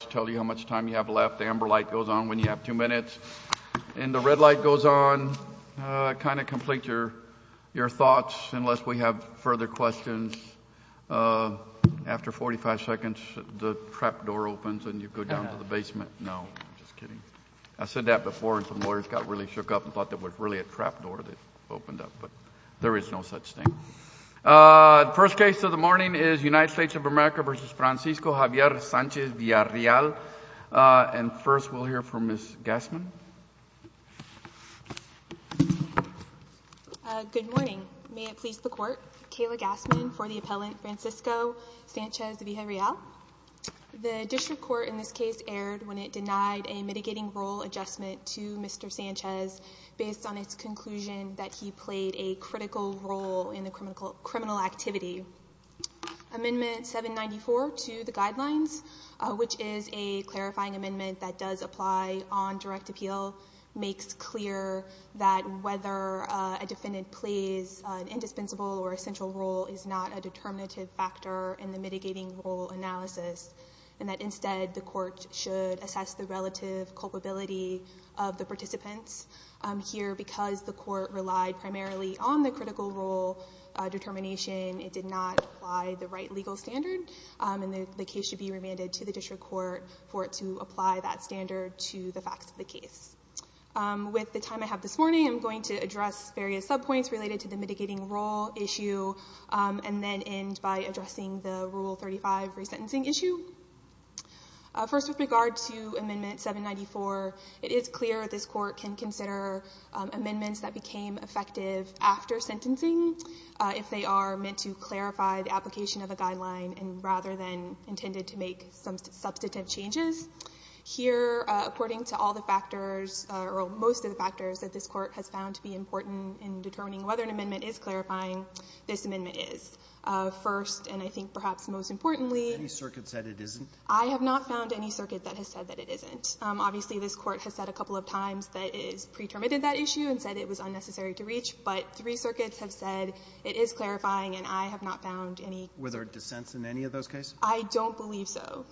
to tell you how much time you have left. The amber light goes on when you have two minutes and the red light goes on. Kind of complete your your thoughts unless we have further questions. After 45 seconds the trap door opens and you go down to the basement. No, just kidding. I said that before and some lawyers got really shook up and thought that was really a trap door that opened up but there is no such thing. The first case of the morning is United States of America v. Francisco Javier Sanchez-Villarreal and first we'll hear from Ms. Gassman. Good morning. May it please the court. Kayla Gassman for the appellant Francisco Sanchez-Villarreal. The district court in this case erred when it denied a mitigating role adjustment to Mr. Sanchez based on its conclusion that he played a critical role in the criminal activity. Amendment 794 to the guidelines, which is a clarifying amendment that does apply on direct appeal, makes clear that whether a defendant plays an indispensable or essential role is not a determinative factor in the mitigating role analysis and that instead the court should assess the relative culpability of the participants here because the court relied primarily on the critical role determination. It did not apply the right legal standard and the case should be remanded to the district court for it to apply that standard to the facts of the case. With the time I have this morning, I'm going to address various subpoints related to the mitigating role issue and then end by addressing the Rule 35 resentencing issue. First with regard to Amendment 794, it is clear this court can consider amendments that became effective after sentencing if they are meant to clarify the application of a guideline and rather than intended to make some substantive changes. Here, according to all the factors, or most of the factors, that this court has found to be important in determining whether an amendment is clarifying, this amendment is. First, and I think perhaps most importantly, I have not found any circuit that has said that it isn't. Obviously, this court has said a couple of times that it has pre-terminated that issue and said it was unnecessary to reach, but three circuits have said it is clarifying and I have not found any. Were there dissents in any of those cases? I don't believe so.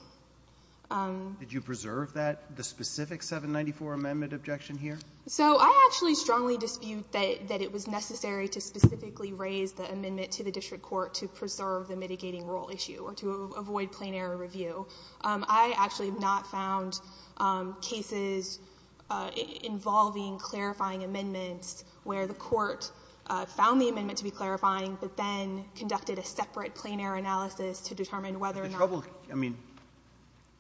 Did you preserve that, the specific 794 amendment objection here? So I actually strongly dispute that it was necessary to specifically raise the amendment to the district court to preserve the mitigating rural issue or to avoid plain-error review. I actually have not found cases involving clarifying amendments where the court found the amendment to be clarifying, but then conducted a separate plain-error analysis to determine whether or not the trouble was there. Roberts. I mean,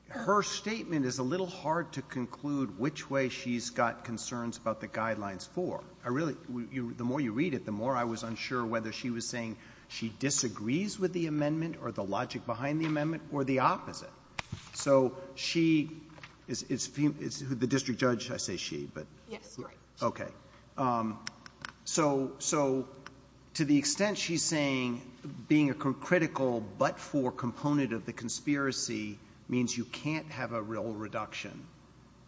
her statement is a little hard to conclude which way she's got concerns about the Guidelines 4. I really, the more you read it, the more I was unsure whether she was saying she disagrees with the amendment or the logic behind the amendment or the opposite. So she is the district judge, I say she, but okay. So to the extent she's saying being a critical but-for component of the conspiracy means you can't have a real reduction,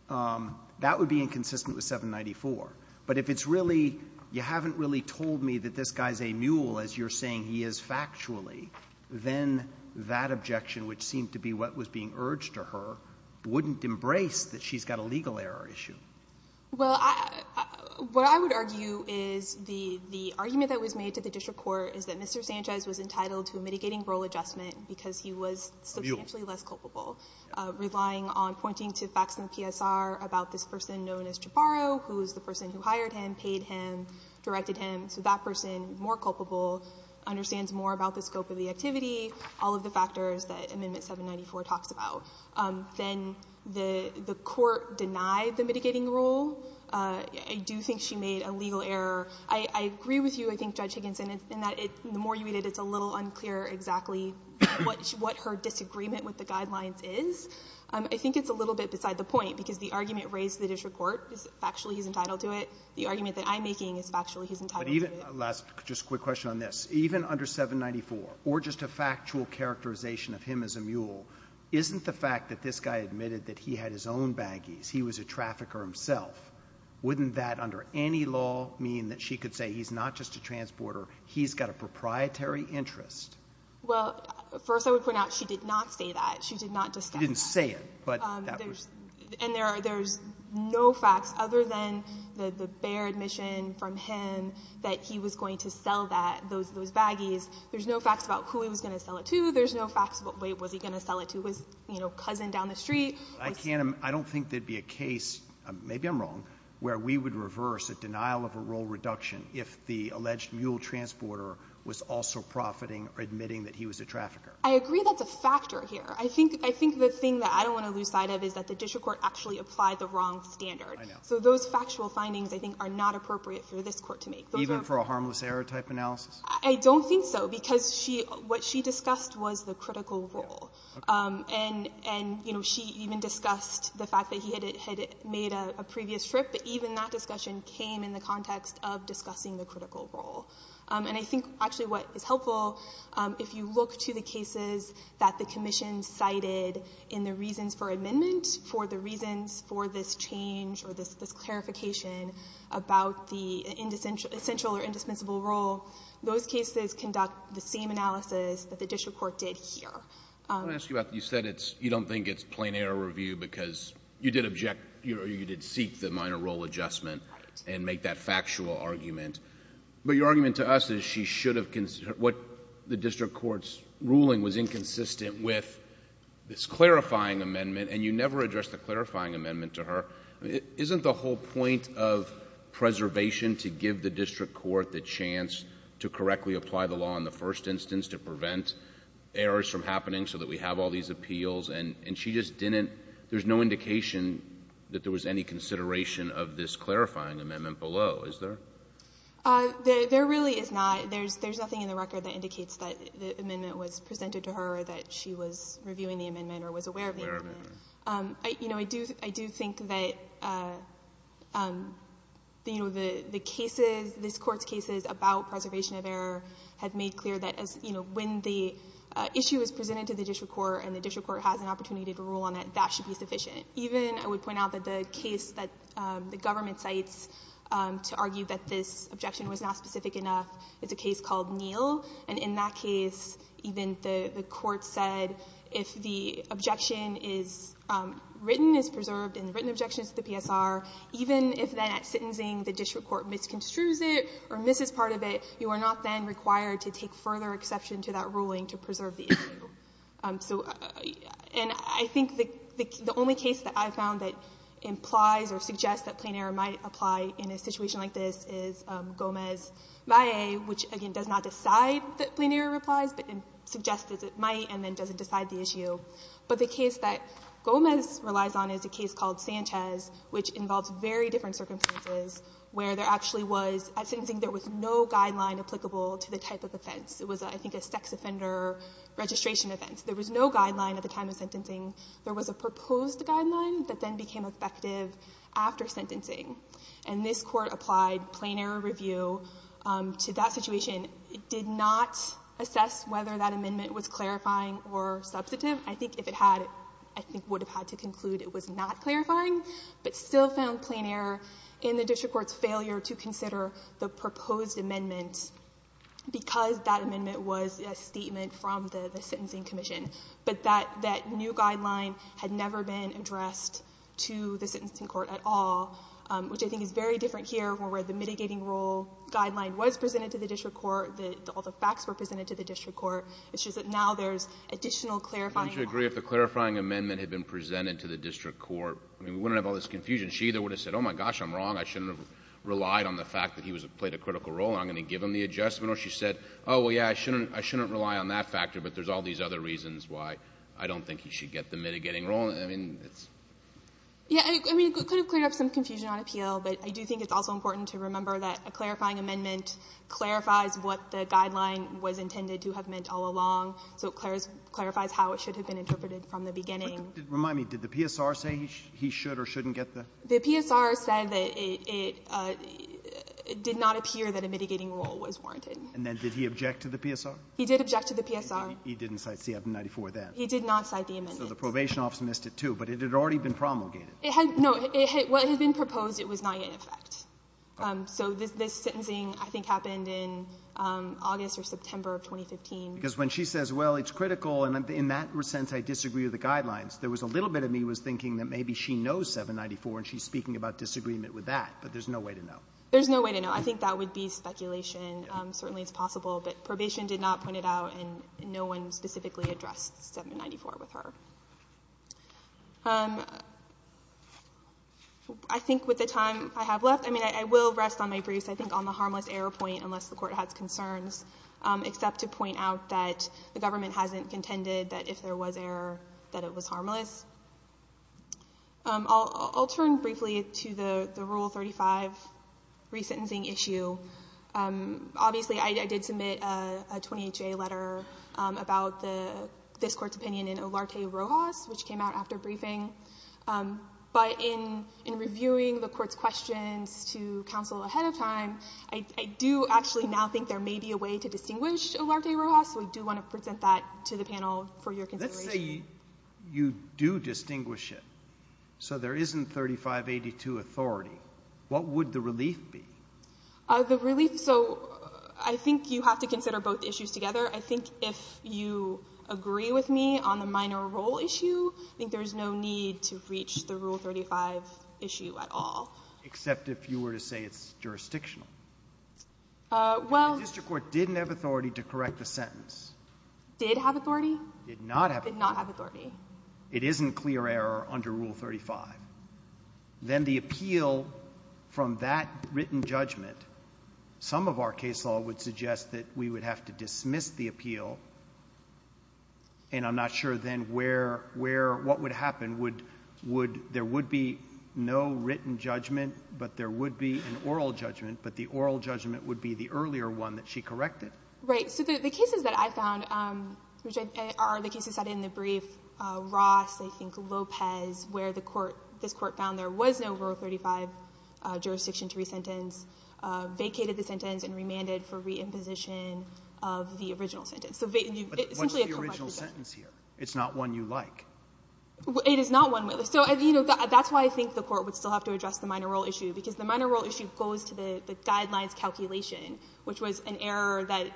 that would be inconsistent with 794. But if it's really you haven't really told me that this guy's a mule, I'm not going to believe it. But if she's saying he's a mule, as you're saying he is factually, then that objection, which seemed to be what was being urged to her, wouldn't embrace that she's got a legal error issue. Well, what I would argue is the argument that was made to the district court is that Mr. Sanchez was entitled to a mitigating rural adjustment because he was substantially less culpable, relying on pointing to facts in the PSR about this person known as Jabaro, who is the person who hired him, paid him, directed him. So that person, more culpable, understands more about the scope of the activity, all of the factors that Amendment 794 talks about. Then the Court denied the mitigating rule. I do think she made a legal error. I agree with you, I think, Judge Higginson, in that the more you read it, it's a little unclear exactly what her disagreement with the guidelines is. I think it's a little bit beside the point, because the argument raised to the district court is factually he's entitled to it. The argument that I'm making is factually he's entitled to it. But even the last, just a quick question on this. Even under 794, or just a factual characterization of him as a mule, isn't the fact that this guy admitted that he had his own baggies, he was a trafficker himself, wouldn't that, under any law, mean that she could say he's not just a transporter, he's got a proprietary interest? Well, first I would point out she did not say that. She did not discuss that. She didn't say it, but that was… And there's no facts other than the bare admission from him that he was going to sell that, those baggies. There's no facts about who he was going to sell it to. There's no facts about, wait, was he going to sell it to his, you know, cousin down the street? I don't think there'd be a case, maybe I'm wrong, where we would reverse a denial of a role reduction if the alleged mule transporter was also profiting or admitting that he was a trafficker. I agree that's a factor here. I think the thing that I don't want to lose sight of is that the district court actually applied the wrong standard. I know. So those factual findings, I think, are not appropriate for this court to make. Even for a harmless error type analysis? I don't think so, because what she discussed was the critical role. Okay. And, you know, she even discussed the fact that he had made a previous trip, but even that discussion came in the context of discussing the critical role. And I think actually what is helpful, if you look to the cases that the Commission cited in the reasons for amendment, for the reasons for this change or this clarification about the essential or indispensable role, those cases conduct the same analysis that the district court did here. Let me ask you about, you said it's, you don't think it's plain error review because you did object, you did seek the minor role adjustment and make that factual argument, but your argument to us is she should have, what the district court's ruling was inconsistent with this clarifying amendment, and you never addressed the clarifying amendment to her. Isn't the whole point of preservation to give the district court the chance to correctly apply the law in the first instance to prevent errors from happening so that we have all these appeals, and she just didn't, there's no indication that there was any consideration of this clarifying amendment below, is there? There really is not. There's nothing in the record that indicates that the amendment was presented to her or that she was reviewing the amendment or was aware of the amendment. Aware of the amendment. You know, I do think that, you know, the cases, this Court's cases about preservation of error have made clear that, you know, when the issue is presented to the district court and the district court has an opportunity to rule on it, that should be sufficient. Even, I would point out that the case that the government cites to argue that this objection was not specific enough, it's a case called Neel, and in that case, even the court said if the objection is written, is preserved, and the written objection is to the PSR, even if then at sentencing the district court misconstrues it or misses part of it, you are not then required to take further exception to that ruling to preserve the issue. So, and I think the only case that I found that implies or suggests that plain error might apply in a situation like this is Gomez-Valle, which, again, does not decide that plain error applies, but suggests that it might and then doesn't decide the issue. But the case that Gomez relies on is a case called Sanchez, which involves very different circumstances where there actually was, at sentencing, there was no guideline applicable to the type of offense. It was, I think, a sex offender registration offense. There was no guideline at the time of sentencing. There was a proposed guideline that then became effective after sentencing, and this Court applied plain error review to that situation. It did not assess whether that amendment was clarifying or substantive. I think if it had, I think it would have had to conclude it was not clarifying, but still found plain error in the district court's failure to consider the proposed amendment because that amendment was a statement from the sentencing commission. But that new guideline had never been addressed to the sentencing court at all, which I think is very different here where the mitigating role guideline was presented to the district court, all the facts were presented to the district court. It's just that now there's additional clarifying law. Can you agree if the clarifying amendment had been presented to the district court? I mean, we wouldn't have all this confusion. She either would have said, oh, my gosh, I'm wrong, I shouldn't have relied on the mitigating role, I'm going to give him the adjustment, or she said, oh, well, yeah, I shouldn't rely on that factor, but there's all these other reasons why I don't think he should get the mitigating role. I mean, it's — Yeah. I mean, it could have cleared up some confusion on appeal, but I do think it's also important to remember that a clarifying amendment clarifies what the guideline was intended to have meant all along, so it clarifies how it should have been interpreted from the beginning. Remind me, did the PSR say he should or shouldn't get the — The PSR said that it did not appear that a mitigating role was warranted. And then did he object to the PSR? He did object to the PSR. He didn't cite 794 then? He did not cite the amendment. So the probation office missed it, too, but it had already been promulgated. It had — no. What had been proposed, it was not yet in effect. So this sentencing, I think, happened in August or September of 2015. Because when she says, well, it's critical, and in that sense I disagree with the guidelines, there was a little bit of me was thinking that maybe she knows 794 and she's speaking about disagreement with that, but there's no way to know. There's no way to know. I think that would be speculation. Certainly it's possible. But probation did not point it out, and no one specifically addressed 794 with her. I think with the time I have left, I mean, I will rest on my briefs, I think, on the harmless error point, unless the Court has concerns, except to point out that the government hasn't contended that if there was error, that it was harmless. I'll turn briefly to the Rule 35 resentencing issue. Obviously, I did submit a 28-J letter about this Court's opinion in Olarte-Rojas, which came out after briefing. But in reviewing the Court's questions to counsel ahead of time, I do actually now think there may be a way to distinguish Olarte-Rojas. So we do want to present that to the panel for your consideration. Let's say you do distinguish it. So there isn't 3582 authority. What would the relief be? The relief, so I think you have to consider both issues together. I think if you agree with me on the minor role issue, I think there's no need to reach the Rule 35 issue at all. Except if you were to say it's jurisdictional. The district court didn't have authority to correct the sentence. Did have authority? Did not have authority. Did not have authority. It isn't clear error under Rule 35. Then the appeal from that written judgment, some of our case law would suggest that we would have to dismiss the appeal, and I'm not sure then what would happen. There would be no written judgment, but there would be an oral judgment. But the oral judgment would be the earlier one that she corrected. Right. So the cases that I found, which are the cases that are in the brief, Ross, I think Lopez, where this Court found there was no Rule 35 jurisdiction to resentence, vacated the sentence and remanded for reimposition of the original sentence. What's the original sentence here? It's not one you like. It is not one we like. So, you know, that's why I think the Court would still have to address the minor rule issue, because the minor rule issue goes to the Guidelines calculation, which was an error that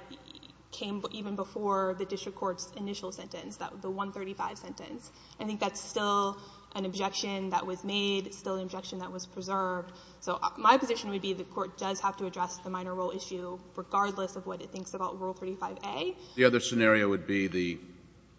came even before the district court's initial sentence, the 135 sentence. I think that's still an objection that was made. It's still an objection that was preserved. So my position would be the Court does have to address the minor rule issue regardless of what it thinks about Rule 35a. The other scenario would be the,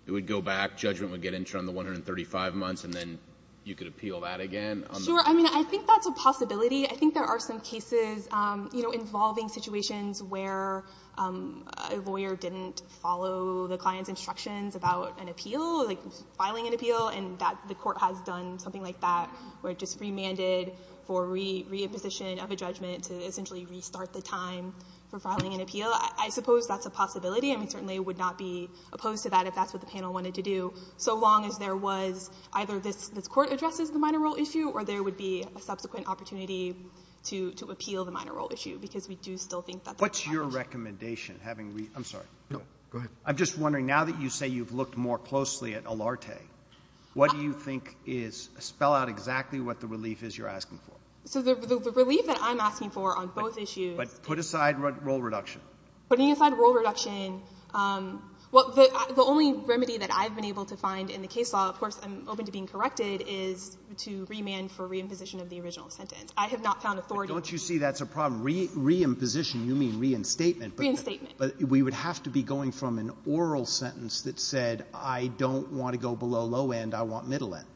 it would go back, judgment would get interim the 135 months, and then you could appeal that again? Sure. I mean, I think that's a possibility. I think there are some cases, you know, involving situations where a lawyer didn't follow the client's instructions about an appeal, like filing an appeal, and that the Court has done something like that, where it just remanded for reimposition of a judgment to essentially restart the time for filing an appeal. I suppose that's a possibility. And we certainly would not be opposed to that if that's what the panel wanted to do, so long as there was either this Court addresses the minor rule issue or there would be a subsequent opportunity to appeal the minor rule issue, because we do still think that that's an option. What's your recommendation, having read? I'm sorry. No. Go ahead. I'm just wondering, now that you say you've looked more closely at Olarte, what do you think is, spell out exactly what the relief is you're asking for? So the relief that I'm asking for on both issues — But put aside rule reduction. Putting aside rule reduction, well, the only remedy that I've been able to find in the case law, of course I'm open to being corrected, is to remand for reimposition of the original sentence. I have not found authority. But don't you see that's a problem? Reimposition, you mean reinstatement. Reinstatement. But we would have to be going from an oral sentence that said, I don't want to go below low end, I want middle end.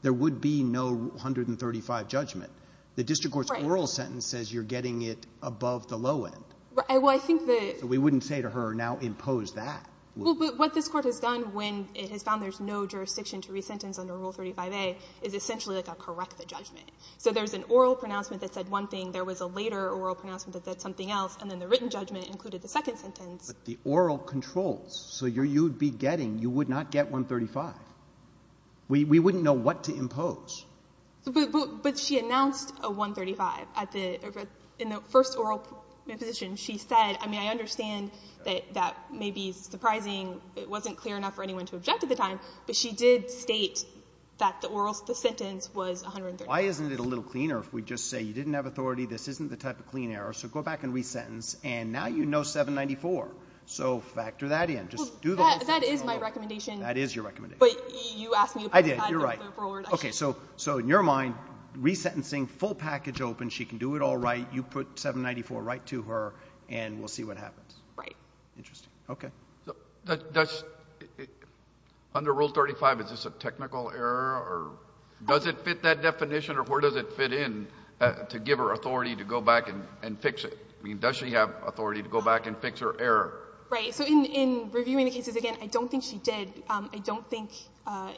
There would be no 135 judgment. The district court's oral sentence says you're getting it above the low end. Well, I think that — So we wouldn't say to her, now impose that. Well, but what this Court has done, when it has found there's no jurisdiction to resentence under Rule 35a, is essentially like a correct the judgment. So there's an oral pronouncement that said one thing, there was a later oral pronouncement that said something else, and then the written judgment included the second sentence. But the oral controls. So you would be getting — you would not get 135. We wouldn't know what to impose. But she announced a 135 at the — in the first oral position. She said — I mean, I understand that that may be surprising. It wasn't clear enough for anyone to object at the time. But she did state that the oral — the sentence was 135. Why isn't it a little cleaner if we just say you didn't have authority, this isn't the type of clean error. So go back and resentence, and now you know 794. So factor that in. Just do the whole thing. That is my recommendation. That is your recommendation. But you asked me — I did. You're right. Okay. So in your mind, resentencing, full package open, she can do it all right. You put 794 right to her, and we'll see what happens. Right. Interesting. Okay. Does — under Rule 35, is this a technical error? Or does it fit that definition? Or where does it fit in to give her authority to go back and fix it? I mean, does she have authority to go back and fix her error? Right. So in reviewing the cases again, I don't think she did. I don't think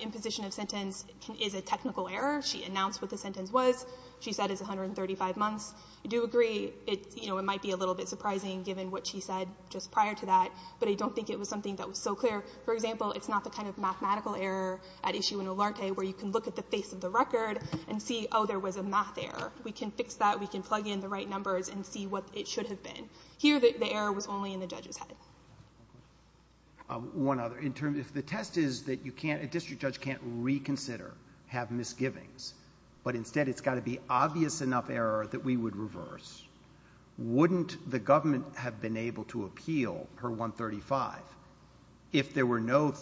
imposition of sentence is a technical error. She announced what the sentence was. She said it's 135 months. I do agree it might be a little bit surprising given what she said just prior to that. But I don't think it was something that was so clear. For example, it's not the kind of mathematical error at issue in Olarte where you can look at the face of the record and see, oh, there was a math error. We can fix that. We can plug in the right numbers and see what it should have been. Here, the error was only in the judge's head. One other. If the test is that a district judge can't reconsider, have misgivings, but instead it's got to be obvious enough error that we would reverse, wouldn't the government have been able to appeal her 135 if there were no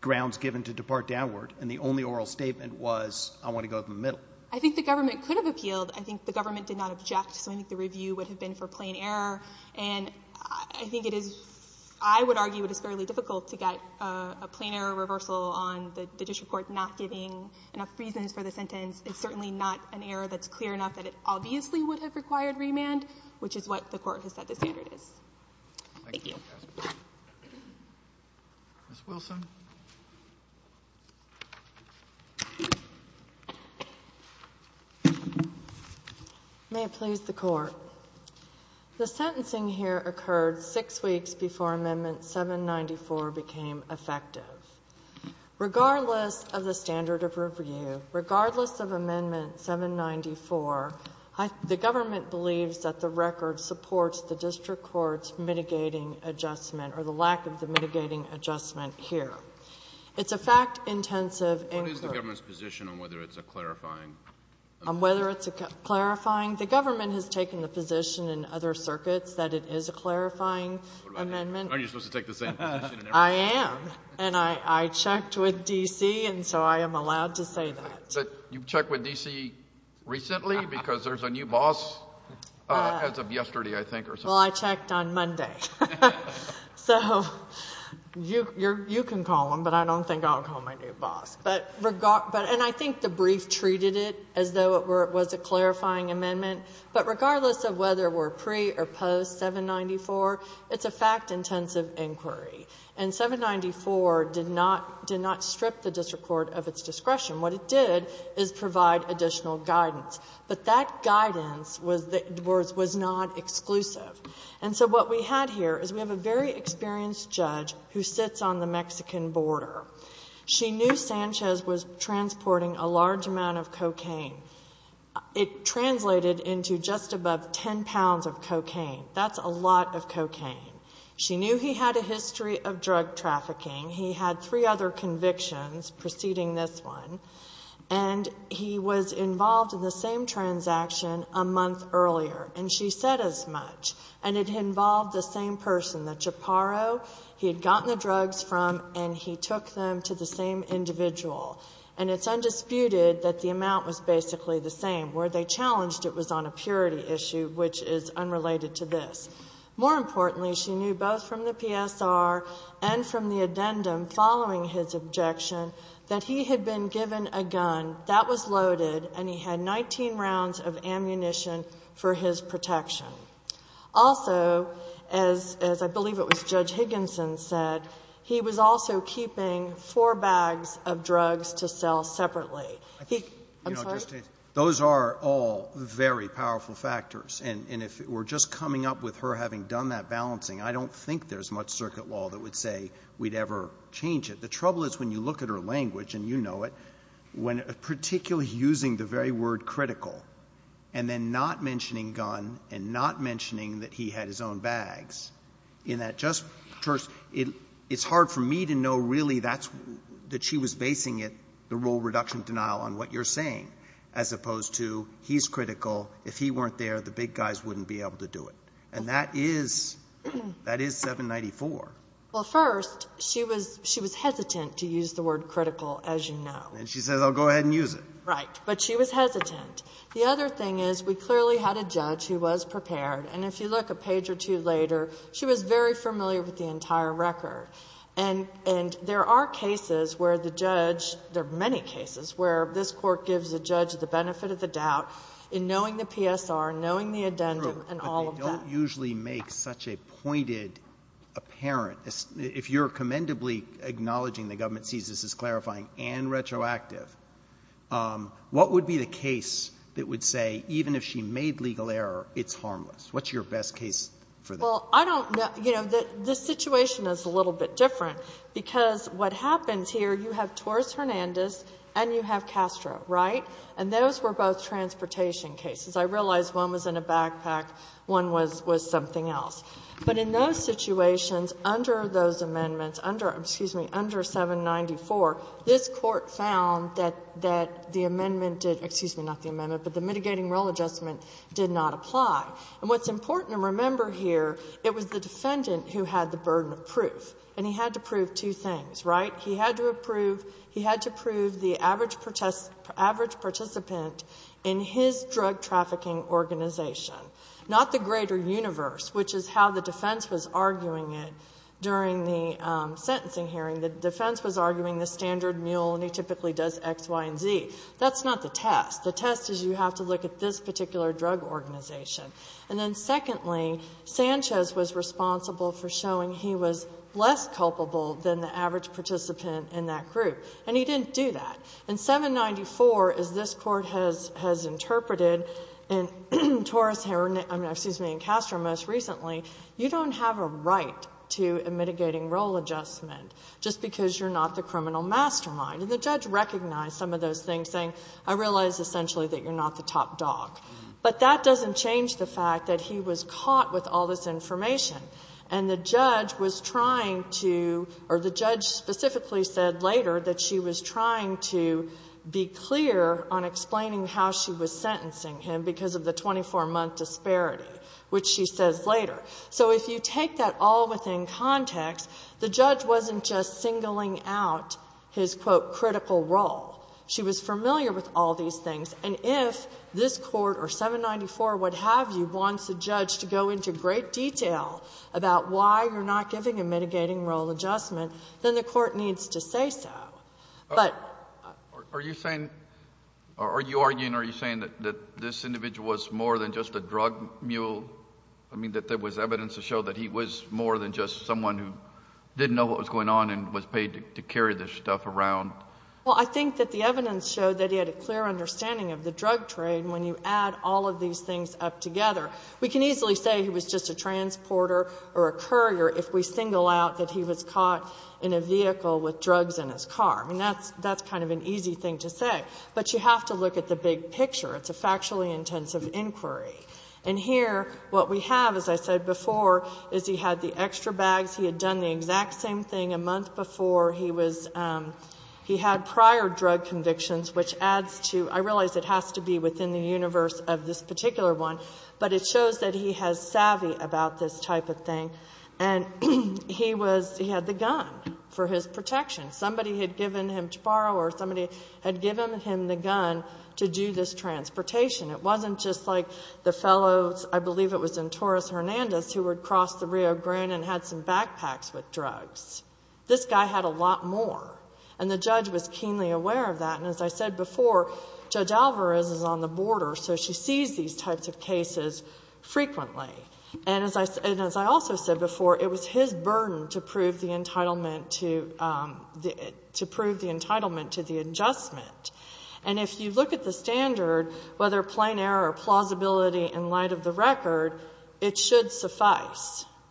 grounds given to depart downward and the only oral statement was I want to go to the middle? I think the government could have appealed. I think the government did not object. So I think the review would have been for plain error. And I think it is, I would argue it is fairly difficult to get a plain error reversal on the district court not giving enough reasons for the sentence. It's certainly not an error that's clear enough that it obviously would have required remand, which is what the Court has said the standard is. Thank you. Ms. Wilson. May it please the Court. The sentencing here occurred six weeks before Amendment 794 became effective. Regardless of the standard of review, regardless of Amendment 794, the government believes that the record supports the district court's mitigating adjustment or the lack of the mitigating adjustment here. It's a fact-intensive inquiry. What is the government's position on whether it's a clarifying? On whether it's a clarifying? The government has taken the position in other circuits that it is a clarifying amendment. Aren't you supposed to take the same position? I am. And I checked with D.C., and so I am allowed to say that. But you've checked with D.C. recently because there's a new boss as of yesterday, I think. Well, I checked on Monday. So you can call him, but I don't think I'll call my new boss. And I think the brief treated it as though it was a clarifying amendment. But regardless of whether we're pre or post 794, it's a fact-intensive inquiry. And 794 did not strip the district court of its discretion. What it did is provide additional guidance. But that guidance was not exclusive. And so what we had here is we have a very experienced judge who sits on the Mexican border. She knew Sanchez was transporting a large amount of cocaine. It translated into just above 10 pounds of cocaine. That's a lot of cocaine. She knew he had a history of drug trafficking. He had three other convictions preceding this one. And he was involved in the same transaction a month earlier. And she said as much. And it involved the same person, the Chaparro. He had gotten the drugs from and he took them to the same individual. And it's undisputed that the amount was basically the same. Where they challenged it was on a purity issue, which is unrelated to this. More importantly, she knew both from the PSR and from the addendum following his objection that he had been given a gun. That was loaded. And he had 19 rounds of ammunition for his protection. Also, as I believe it was Judge Higginson said, he was also keeping four bags of drugs to sell separately. I'm sorry? Those are all very powerful factors. And if we're just coming up with her having done that balancing, I don't think there's much circuit law that would say we'd ever change it. The trouble is when you look at her language, and you know it, when particularly using the very word critical and then not mentioning gun and not mentioning that he had his own bags, in that just first it's hard for me to know really that she was basing it, the rule of reduction of denial, on what you're saying as opposed to he's critical. If he weren't there, the big guys wouldn't be able to do it. And that is 794. Well, first, she was hesitant to use the word critical, as you know. And she says, I'll go ahead and use it. Right. But she was hesitant. The other thing is we clearly had a judge who was prepared. And if you look a page or two later, she was very familiar with the entire record. And there are cases where the judge, there are many cases where this Court gives a judge the benefit of the doubt in knowing the PSR, knowing the addendum, and all of that. But that does not usually make such a pointed, apparent, if you're commendably acknowledging the government sees this as clarifying and retroactive, what would be the case that would say even if she made legal error, it's harmless? What's your best case for that? Well, I don't know. You know, the situation is a little bit different because what happens here, you have Torres-Hernandez and you have Castro, right? And those were both transportation cases. I realize one was in a backpack, one was something else. But in those situations, under those amendments, under, excuse me, under 794, this Court found that the amendment did, excuse me, not the amendment, but the mitigating rule adjustment did not apply. And what's important to remember here, it was the defendant who had the burden of proof. And he had to prove two things, right? He had to approve, he had to prove the average participant in his drug trafficking organization, not the greater universe, which is how the defense was arguing it during the sentencing hearing. The defense was arguing the standard mule, and he typically does X, Y, and Z. That's not the test. The test is you have to look at this particular drug organization. And then secondly, Sanchez was responsible for showing he was less culpable than the average participant in that group. And he didn't do that. In 794, as this Court has interpreted, in Torres, I mean, excuse me, in Castro most recently, you don't have a right to a mitigating rule adjustment just because you're not the criminal mastermind. And the judge recognized some of those things, saying, I realize essentially that you're not the top dog. But that doesn't change the fact that he was caught with all this information. And the judge was trying to or the judge specifically said later that she was trying to be clear on explaining how she was sentencing him because of the 24-month disparity, which she says later. So if you take that all within context, the judge wasn't just singling out his, quote, critical role. She was familiar with all these things. And if this Court or 794, what have you, wants a judge to go into great detail about why you're not giving a mitigating rule adjustment, then the Court needs to say so. But ---- Are you saying or are you arguing, are you saying that this individual was more than just a drug mule? I mean, that there was evidence to show that he was more than just someone who didn't know what was going on and was paid to carry this stuff around? Well, I think that the evidence showed that he had a clear understanding of the drug trade. When you add all of these things up together, we can easily say he was just a transporter or a courier if we single out that he was caught in a vehicle with drugs in his car. I mean, that's kind of an easy thing to say. But you have to look at the big picture. It's a factually intensive inquiry. And here what we have, as I said before, is he had the extra bags. He had done the exact same thing a month before. He was ---- he had prior drug convictions, which adds to ---- I realize it has to be within the universe of this particular one, but it shows that he has savvy about this type of thing. And he was ---- he had the gun for his protection. Somebody had given him to borrow or somebody had given him the gun to do this transportation. It wasn't just like the fellows, I believe it was in Torres Hernandez, who would cross the Rio Grande and had some backpacks with drugs. This guy had a lot more. And the judge was keenly aware of that. And as I said before, Judge Alvarez is on the border, so she sees these types of cases frequently. And as I also said before, it was his burden to prove the entitlement to the adjustment. And if you look at the standard, whether plain error or plausibility in light of the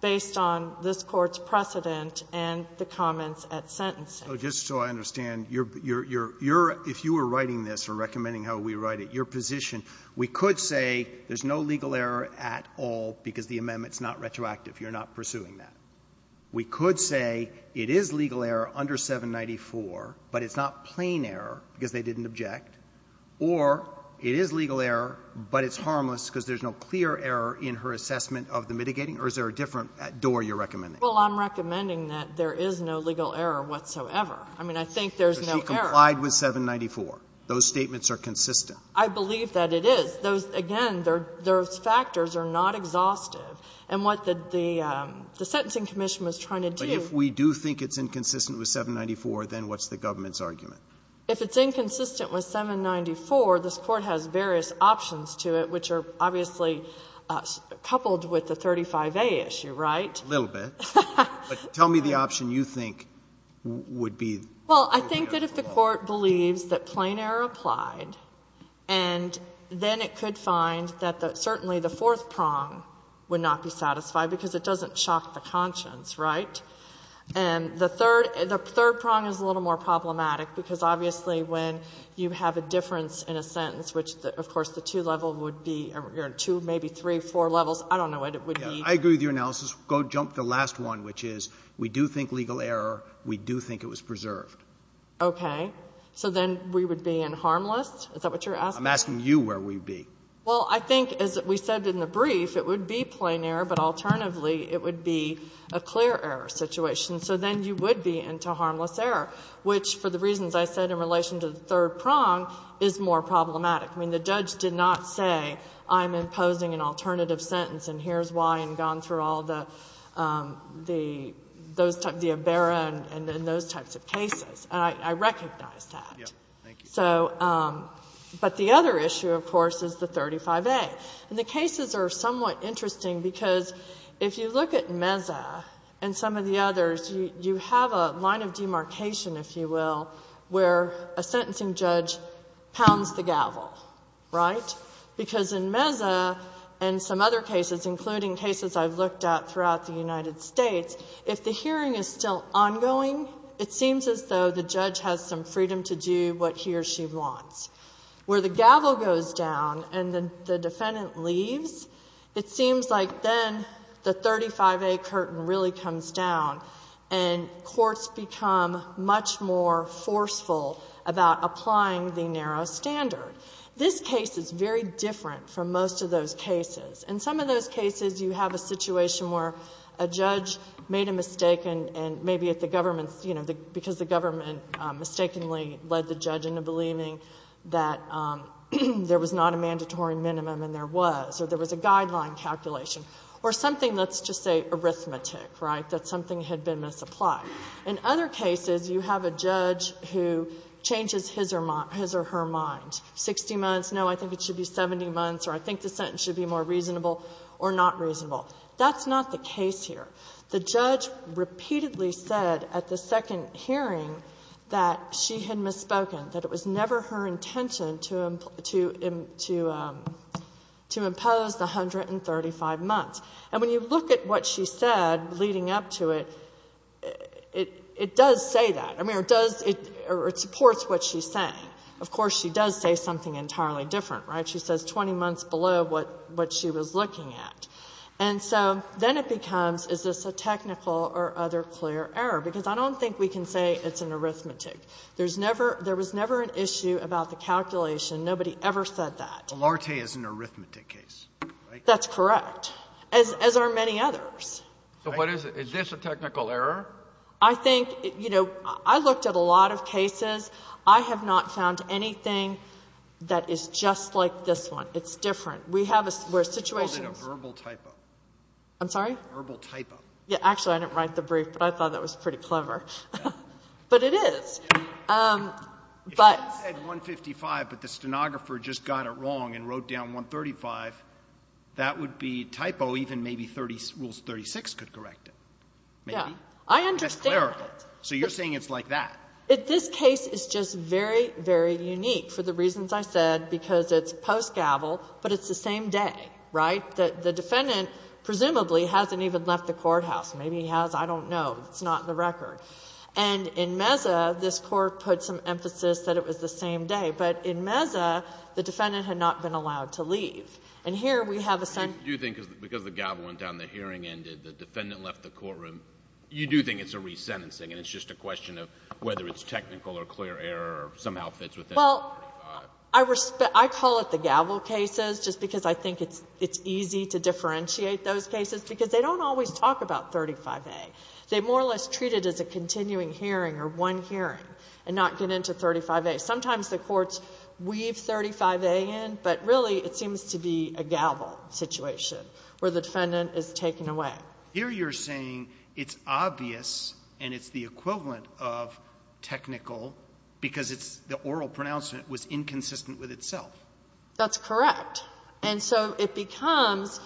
this Court's precedent and the comments at sentencing. Roberts. So just so I understand, you're ---- you're ---- you're ---- if you were writing this or recommending how we write it, your position, we could say there's no legal error at all because the amendment's not retroactive. You're not pursuing that. We could say it is legal error under 794, but it's not plain error because they didn't object, or it is legal error, but it's harmless because there's no clear error in her assessment of the mitigating. Or is there a different door you're recommending? Well, I'm recommending that there is no legal error whatsoever. I mean, I think there's no error. But she complied with 794. Those statements are consistent. I believe that it is. Those, again, those factors are not exhaustive. And what the Sentencing Commission was trying to do ---- But if we do think it's inconsistent with 794, then what's the government's argument? If it's inconsistent with 794, this Court has various options to it, which are obviously coupled with the 35A issue, right? A little bit. But tell me the option you think would be the way to go. Well, I think that if the Court believes that plain error applied, and then it could find that certainly the fourth prong would not be satisfied, because it doesn't shock the conscience, right? And the third prong is a little more problematic, because obviously when you have a difference in a sentence, which of course the two-level would be, or two, maybe three, four levels, I don't know what it would be. I agree with your analysis. Go jump to the last one, which is we do think legal error. We do think it was preserved. Okay. So then we would be in harmless? Is that what you're asking? I'm asking you where we would be. Well, I think as we said in the brief, it would be plain error, but alternatively it would be a clear error situation. So then you would be into harmless error, which for the reasons I said in relation to the third prong is more problematic. I mean, the judge did not say I'm imposing an alternative sentence, and here's why, and gone through all the, those types, the ABERA and those types of cases. And I recognize that. Yes. Thank you. So, but the other issue, of course, is the 35A. And the cases are somewhat interesting, because if you look at Meza and some of the cases, the sentencing judge pounds the gavel, right? Because in Meza and some other cases, including cases I've looked at throughout the United States, if the hearing is still ongoing, it seems as though the judge has some freedom to do what he or she wants. Where the gavel goes down and the defendant leaves, it seems like then the 35A curtain really comes down and courts become much more forceful about applying the narrow standard. This case is very different from most of those cases. In some of those cases, you have a situation where a judge made a mistake, and maybe if the government, you know, because the government mistakenly led the judge into believing that there was not a mandatory minimum, and there was, or there was a guideline calculation. Or something, let's just say, arithmetic, right? That something had been misapplied. In other cases, you have a judge who changes his or her mind. 60 months, no, I think it should be 70 months, or I think the sentence should be more reasonable, or not reasonable. That's not the case here. The judge repeatedly said at the second hearing that she had misspoken, that it was 20 months. And when you look at what she said leading up to it, it does say that. I mean, it does, or it supports what she's saying. Of course, she does say something entirely different, right? She says 20 months below what she was looking at. And so then it becomes, is this a technical or other clear error? Because I don't think we can say it's an arithmetic. There's never, there was never an issue about the calculation. Nobody ever said that. Alarte is an arithmetic case, right? That's correct, as are many others. So what is it? Is this a technical error? I think, you know, I looked at a lot of cases. I have not found anything that is just like this one. It's different. We have a situation. It's called a verbal typo. I'm sorry? Verbal typo. Yeah, actually, I didn't write the brief, but I thought that was pretty clever. But it is. If she said 155, but the stenographer just got it wrong and wrote down 135, that would be typo. Even maybe Rules 36 could correct it. Yeah, I understand. So you're saying it's like that. This case is just very, very unique for the reasons I said, because it's post-gavel, but it's the same day, right? The defendant presumably hasn't even left the courthouse. Maybe he has. I don't know. It's not in the record. And in Meza, this Court put some emphasis that it was the same day. But in Meza, the defendant had not been allowed to leave. And here we have a sentence. I do think because the gavel went down, the hearing ended, the defendant left the courtroom. You do think it's a resentencing and it's just a question of whether it's technical or clear error or somehow fits within 135. Well, I call it the gavel cases just because I think it's easy to differentiate those cases, because they don't always talk about 35A. They more or less treat it as a continuing hearing or one hearing and not get into 35A. Sometimes the courts weave 35A in, but really it seems to be a gavel situation where the defendant is taken away. Here you're saying it's obvious and it's the equivalent of technical because it's the oral pronouncement was inconsistent with itself. That's correct. And so it becomes,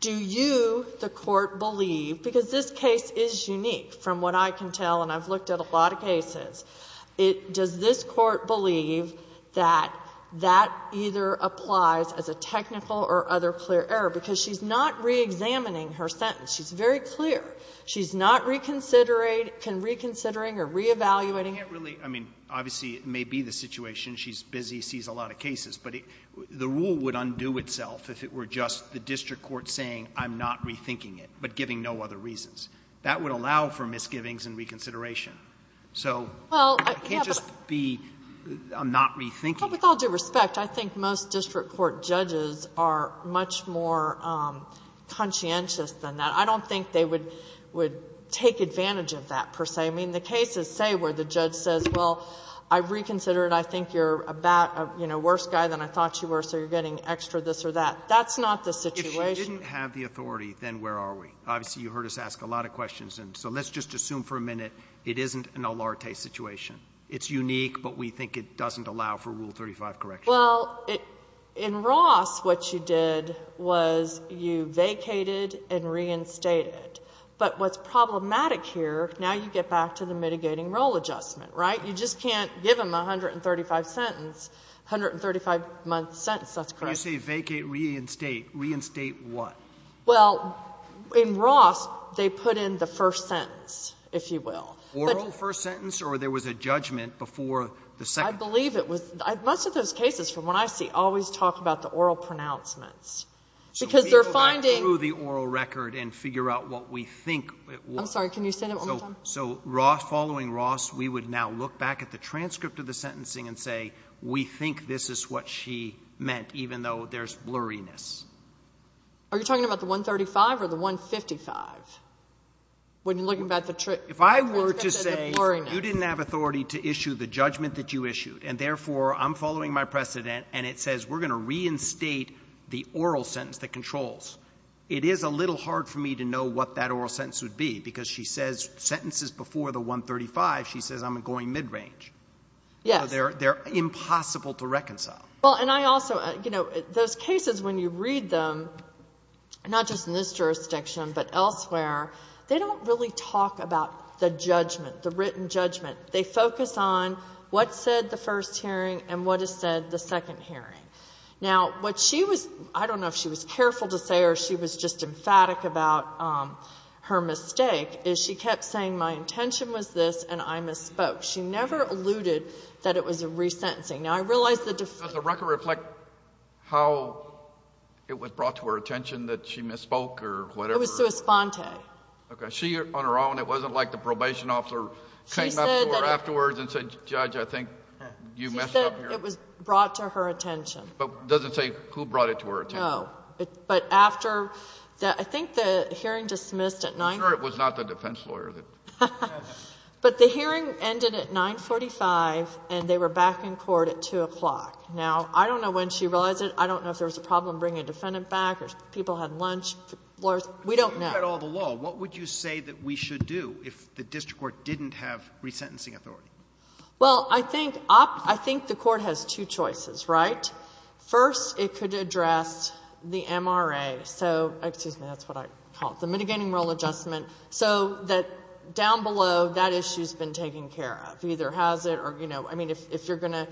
do you, the Court, believe, because this case is unique from what I can tell and I've looked at a lot of cases, it does this Court believe that that either applies as a technical or other clear error, because she's not reexamining her sentence. She's very clear. She's not reconsidering or reevaluating it. I mean, obviously it may be the situation. She's busy, sees a lot of cases. But the rule would undo itself if it were just the district court saying, I'm not rethinking it, but giving no other reasons. That would allow for misgivings and reconsideration. So it can't just be, I'm not rethinking it. Well, with all due respect, I think most district court judges are much more conscientious than that. I don't think they would take advantage of that, per se. I mean, the cases say where the judge says, well, I've reconsidered. I think you're about, you know, a worse guy than I thought you were, so you're getting extra this or that. That's not the situation. If she didn't have the authority, then where are we? Obviously, you heard us ask a lot of questions, and so let's just assume for a minute it isn't an Olarte situation. It's unique, but we think it doesn't allow for Rule 35 correction. Well, in Ross, what you did was you vacated and reinstated. But what's problematic here, now you get back to the mitigating role adjustment, right? You just can't give them a 135-sentence, 135-month sentence. That's correct. When you say vacate, reinstate, reinstate what? Well, in Ross, they put in the first sentence, if you will. Oral first sentence, or there was a judgment before the second? I believe it was. Most of those cases, from what I see, always talk about the oral pronouncements, because they're finding So we go back through the oral record and figure out what we think it was. Can you say that one more time? So following Ross, we would now look back at the transcript of the sentencing and say, we think this is what she meant, even though there's blurriness. Are you talking about the 135 or the 155? When you're looking at the transcript of the blurriness. If I were to say, you didn't have authority to issue the judgment that you issued, and therefore I'm following my precedent, and it says we're going to reinstate the oral sentence, the controls, it is a little hard for me to know what that oral sentence would be, because she says sentences before the 135, she says I'm going mid-range. Yes. So they're impossible to reconcile. Well, and I also, you know, those cases, when you read them, not just in this jurisdiction, but elsewhere, they don't really talk about the judgment, the written judgment. They focus on what said the first hearing and what is said the second hearing. Now, what she was, I don't know if she was careful to say or she was just emphatic about her mistake, is she kept saying my intention was this and I misspoke. She never alluded that it was a resentencing. Now, I realize the difference. Does the record reflect how it was brought to her attention that she misspoke or whatever? It was to Esponte. Okay. She, on her own, it wasn't like the probation officer came up to her afterwards and said, Judge, I think you messed up here. She said it was brought to her attention. But it doesn't say who brought it to her attention. No. But after the — I think the hearing dismissed at 9 — I'm sure it was not the defense lawyer that — But the hearing ended at 945, and they were back in court at 2 o'clock. Now, I don't know when she realized it. I don't know if there was a problem bringing a defendant back or if people had lunch. We don't know. If you had all the law, what would you say that we should do if the district court didn't have resentencing authority? Well, I think the court has two choices, right? First, it could address the MRA. So — excuse me, that's what I called it — the mitigating role adjustment, so that down below, that issue's been taken care of. Either has it or, you know, I mean, if you're going to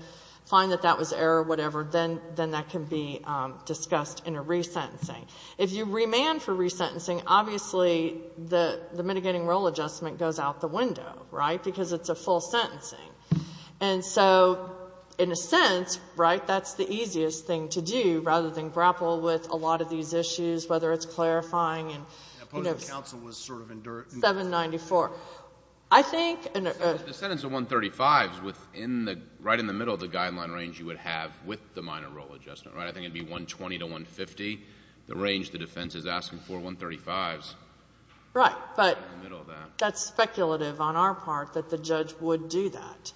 find that that was error or whatever, then that can be discussed in a resentencing. If you remand for resentencing, obviously the mitigating role adjustment goes out the window, right, because it's a full sentencing. And so, in a sense, right, that's the easiest thing to do rather than grapple with a lot of these issues, whether it's clarifying and, you know, 794. I think — The sentence of 135 is within the — right in the middle of the guideline range you would have with the minor role adjustment, right? I think it would be 120 to 150, the range the defense is asking for. 135 is in the middle of that. That's speculative on our part that the judge would do that.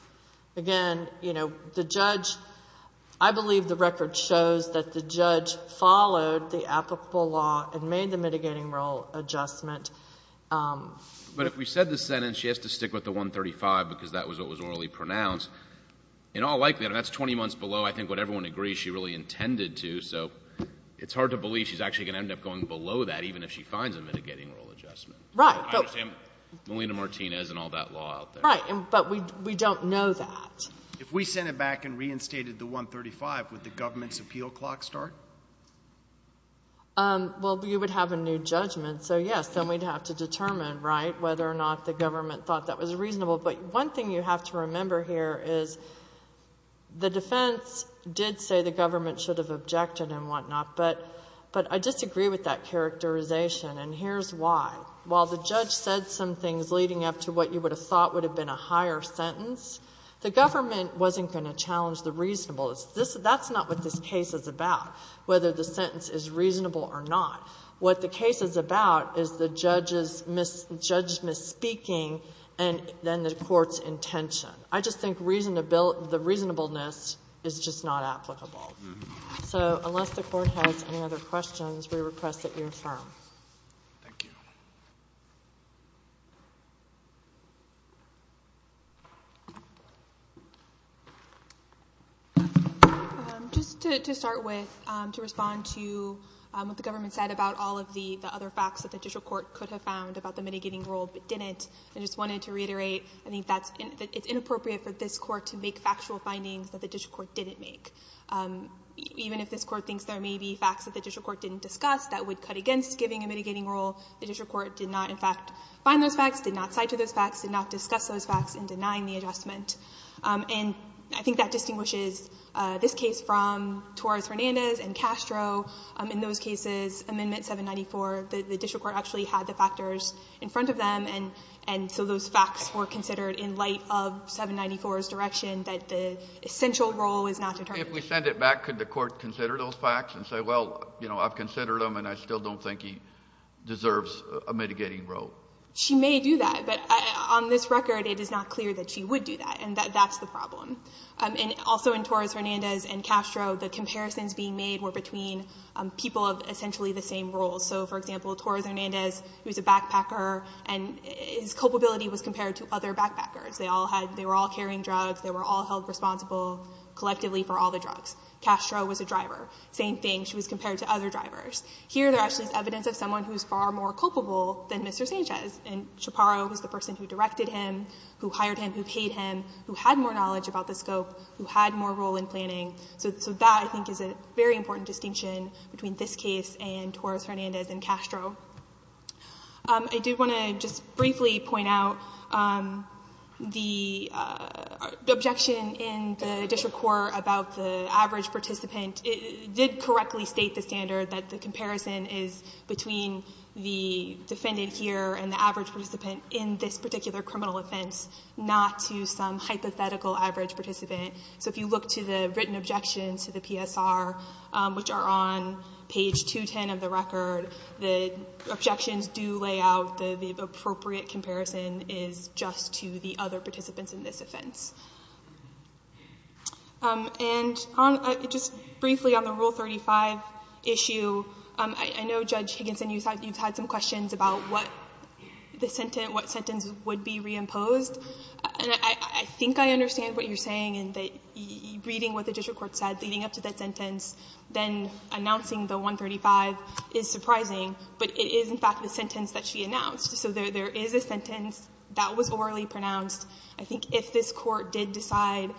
Again, you know, the judge — I believe the record shows that the judge followed the applicable law and made the mitigating role adjustment. But if we said the sentence she has to stick with the 135 because that was what was orally pronounced, in all likelihood, and that's 20 months below, I think what everyone agrees she really intended to, so it's hard to believe she's actually going to end up going below that even if she finds a mitigating role adjustment. Right. I understand Molina-Martinez and all that law out there. Right. But we don't know that. If we sent it back and reinstated the 135, would the government's appeal clock start? Well, you would have a new judgment, so yes, then we'd have to determine, right, whether or not the government thought that was reasonable. But one thing you have to remember here is the defense did say the government should have objected and whatnot, but I disagree with that characterization, and here's why. While the judge said some things leading up to what you would have thought would have been a higher sentence, the government wasn't going to challenge the reasonableness. That's not what this case is about, whether the sentence is reasonable or not. What the case is about is the judge's misspeaking and then the court's intention. I just think the reasonableness is just not applicable. So unless the court has any other questions, we request that you affirm. Thank you. Just to start with, to respond to what the government said about all of the other facts that the judicial court could have found about the mitigating role but didn't, I just wanted to reiterate I think that it's inappropriate for this court to make factual findings that the judicial court didn't make. Even if this court thinks there may be facts that the judicial court didn't discuss that would cut against giving a mitigating role, the judicial court did not in fact find those facts, did not cite to those facts, did not discuss those facts in denying the adjustment. And I think that distinguishes this case from Torres-Hernandez and Castro. In those cases, Amendment 794, the judicial court actually had the factors in front of them, and so those facts were considered in light of 794's direction that the essential role is not determined. If we send it back, could the court consider those facts and say, well, you know, I've considered them and I still don't think he deserves a mitigating role? She may do that. But on this record, it is not clear that she would do that, and that's the problem. And also in Torres-Hernandez and Castro, the comparisons being made were between people of essentially the same role. So, for example, Torres-Hernandez, he was a backpacker, and his culpability was compared to other backpackers. They all had — they were all carrying drugs. They were all held responsible collectively for all the drugs. Castro was a driver. Same thing. She was compared to other drivers. Here there actually is evidence of someone who is far more culpable than Mr. Sanchez, and Chaparro was the person who directed him, who hired him, who paid him, who had more knowledge about the scope, who had more role in planning. So that, I think, is a very important distinction between this case and Torres-Hernandez and Castro. I did want to just briefly point out the objection in the district court about the average participant did correctly state the standard that the comparison is between the defendant here and the average participant in this particular criminal offense, not to some hypothetical average participant. So if you look to the written objections to the PSR, which are on page 210 of the record, the objections do lay out the appropriate comparison is just to the other participants in this offense. And on — just briefly on the Rule 35 issue, I know, Judge Higginson, you've had some questions about what the sentence — what sentence would be reimposed. And I think I understand what you're saying in that reading what the district court said leading up to that sentence, then announcing the 135 is surprising, but it is, in fact, the sentence that she announced. So there is a sentence that was orally pronounced. I think if this Court did decide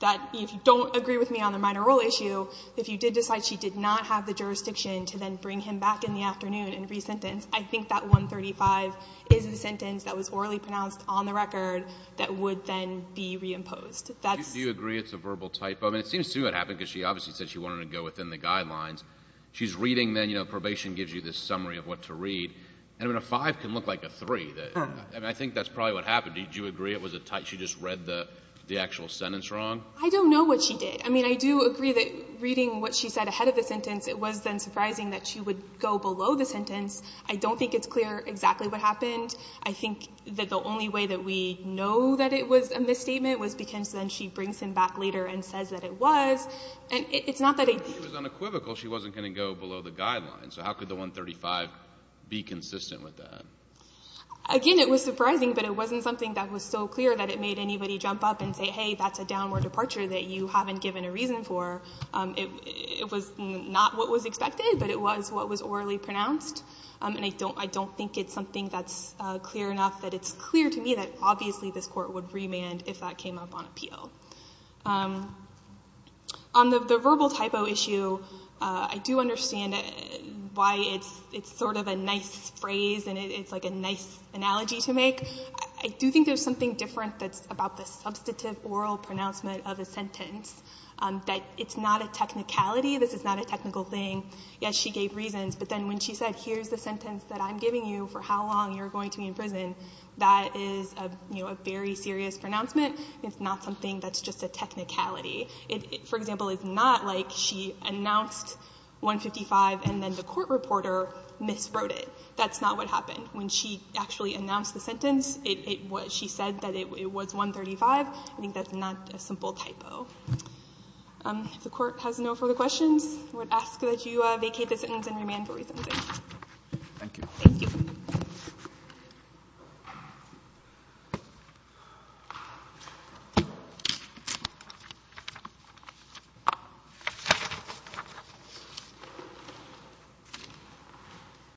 that — if you don't agree with me on the minor rule issue, if you did decide she did not have the jurisdiction to then bring him back in the afternoon and re-sentence, I think that 135 is the sentence that was orally pronounced on the record that would then be reimposed. That's — Do you agree it's a verbal typo? I mean, it seems to me it happened because she obviously said she wanted to go within the guidelines. She's reading, then, you know, probation gives you this summary of what to read. I mean, a 5 can look like a 3. I mean, I think that's probably what happened. Did you agree it was a — she just read the actual sentence wrong? I don't know what she did. I mean, I do agree that reading what she said ahead of the sentence, it was then surprising that she would go below the sentence. I don't think it's clear exactly what happened. I think that the only way that we know that it was a misstatement was because then she brings him back later and says that it was. And it's not that I — But she was unequivocal. She wasn't going to go below the guidelines. So how could the 135 be consistent with that? Again, it was surprising, but it wasn't something that was so clear that it made anybody jump up and say, hey, that's a downward departure that you haven't given a reason for. It was not what was expected, but it was what was orally pronounced. And I don't think it's something that's clear enough that it's clear to me that obviously this Court would remand if that came up on appeal. On the verbal typo issue, I do understand why it's sort of a nice phrase and it's like a nice analogy to make. I do think there's something different that's about the substantive oral pronouncement of a sentence, that it's not a technicality. This is not a technical thing. Yes, she gave reasons, but then when she said, here's the sentence that I'm giving you for how long you're going to be in prison, that is a very serious pronouncement. It's not something that's just a technicality. For example, it's not like she announced 155 and then the court reporter miswrote it. That's not what happened. When she actually announced the sentence, she said that it was 135. I think that's not a simple typo. If the Court has no further questions, I would ask that you vacate the sentence and remand for re-sentencing. Thank you. Thank you.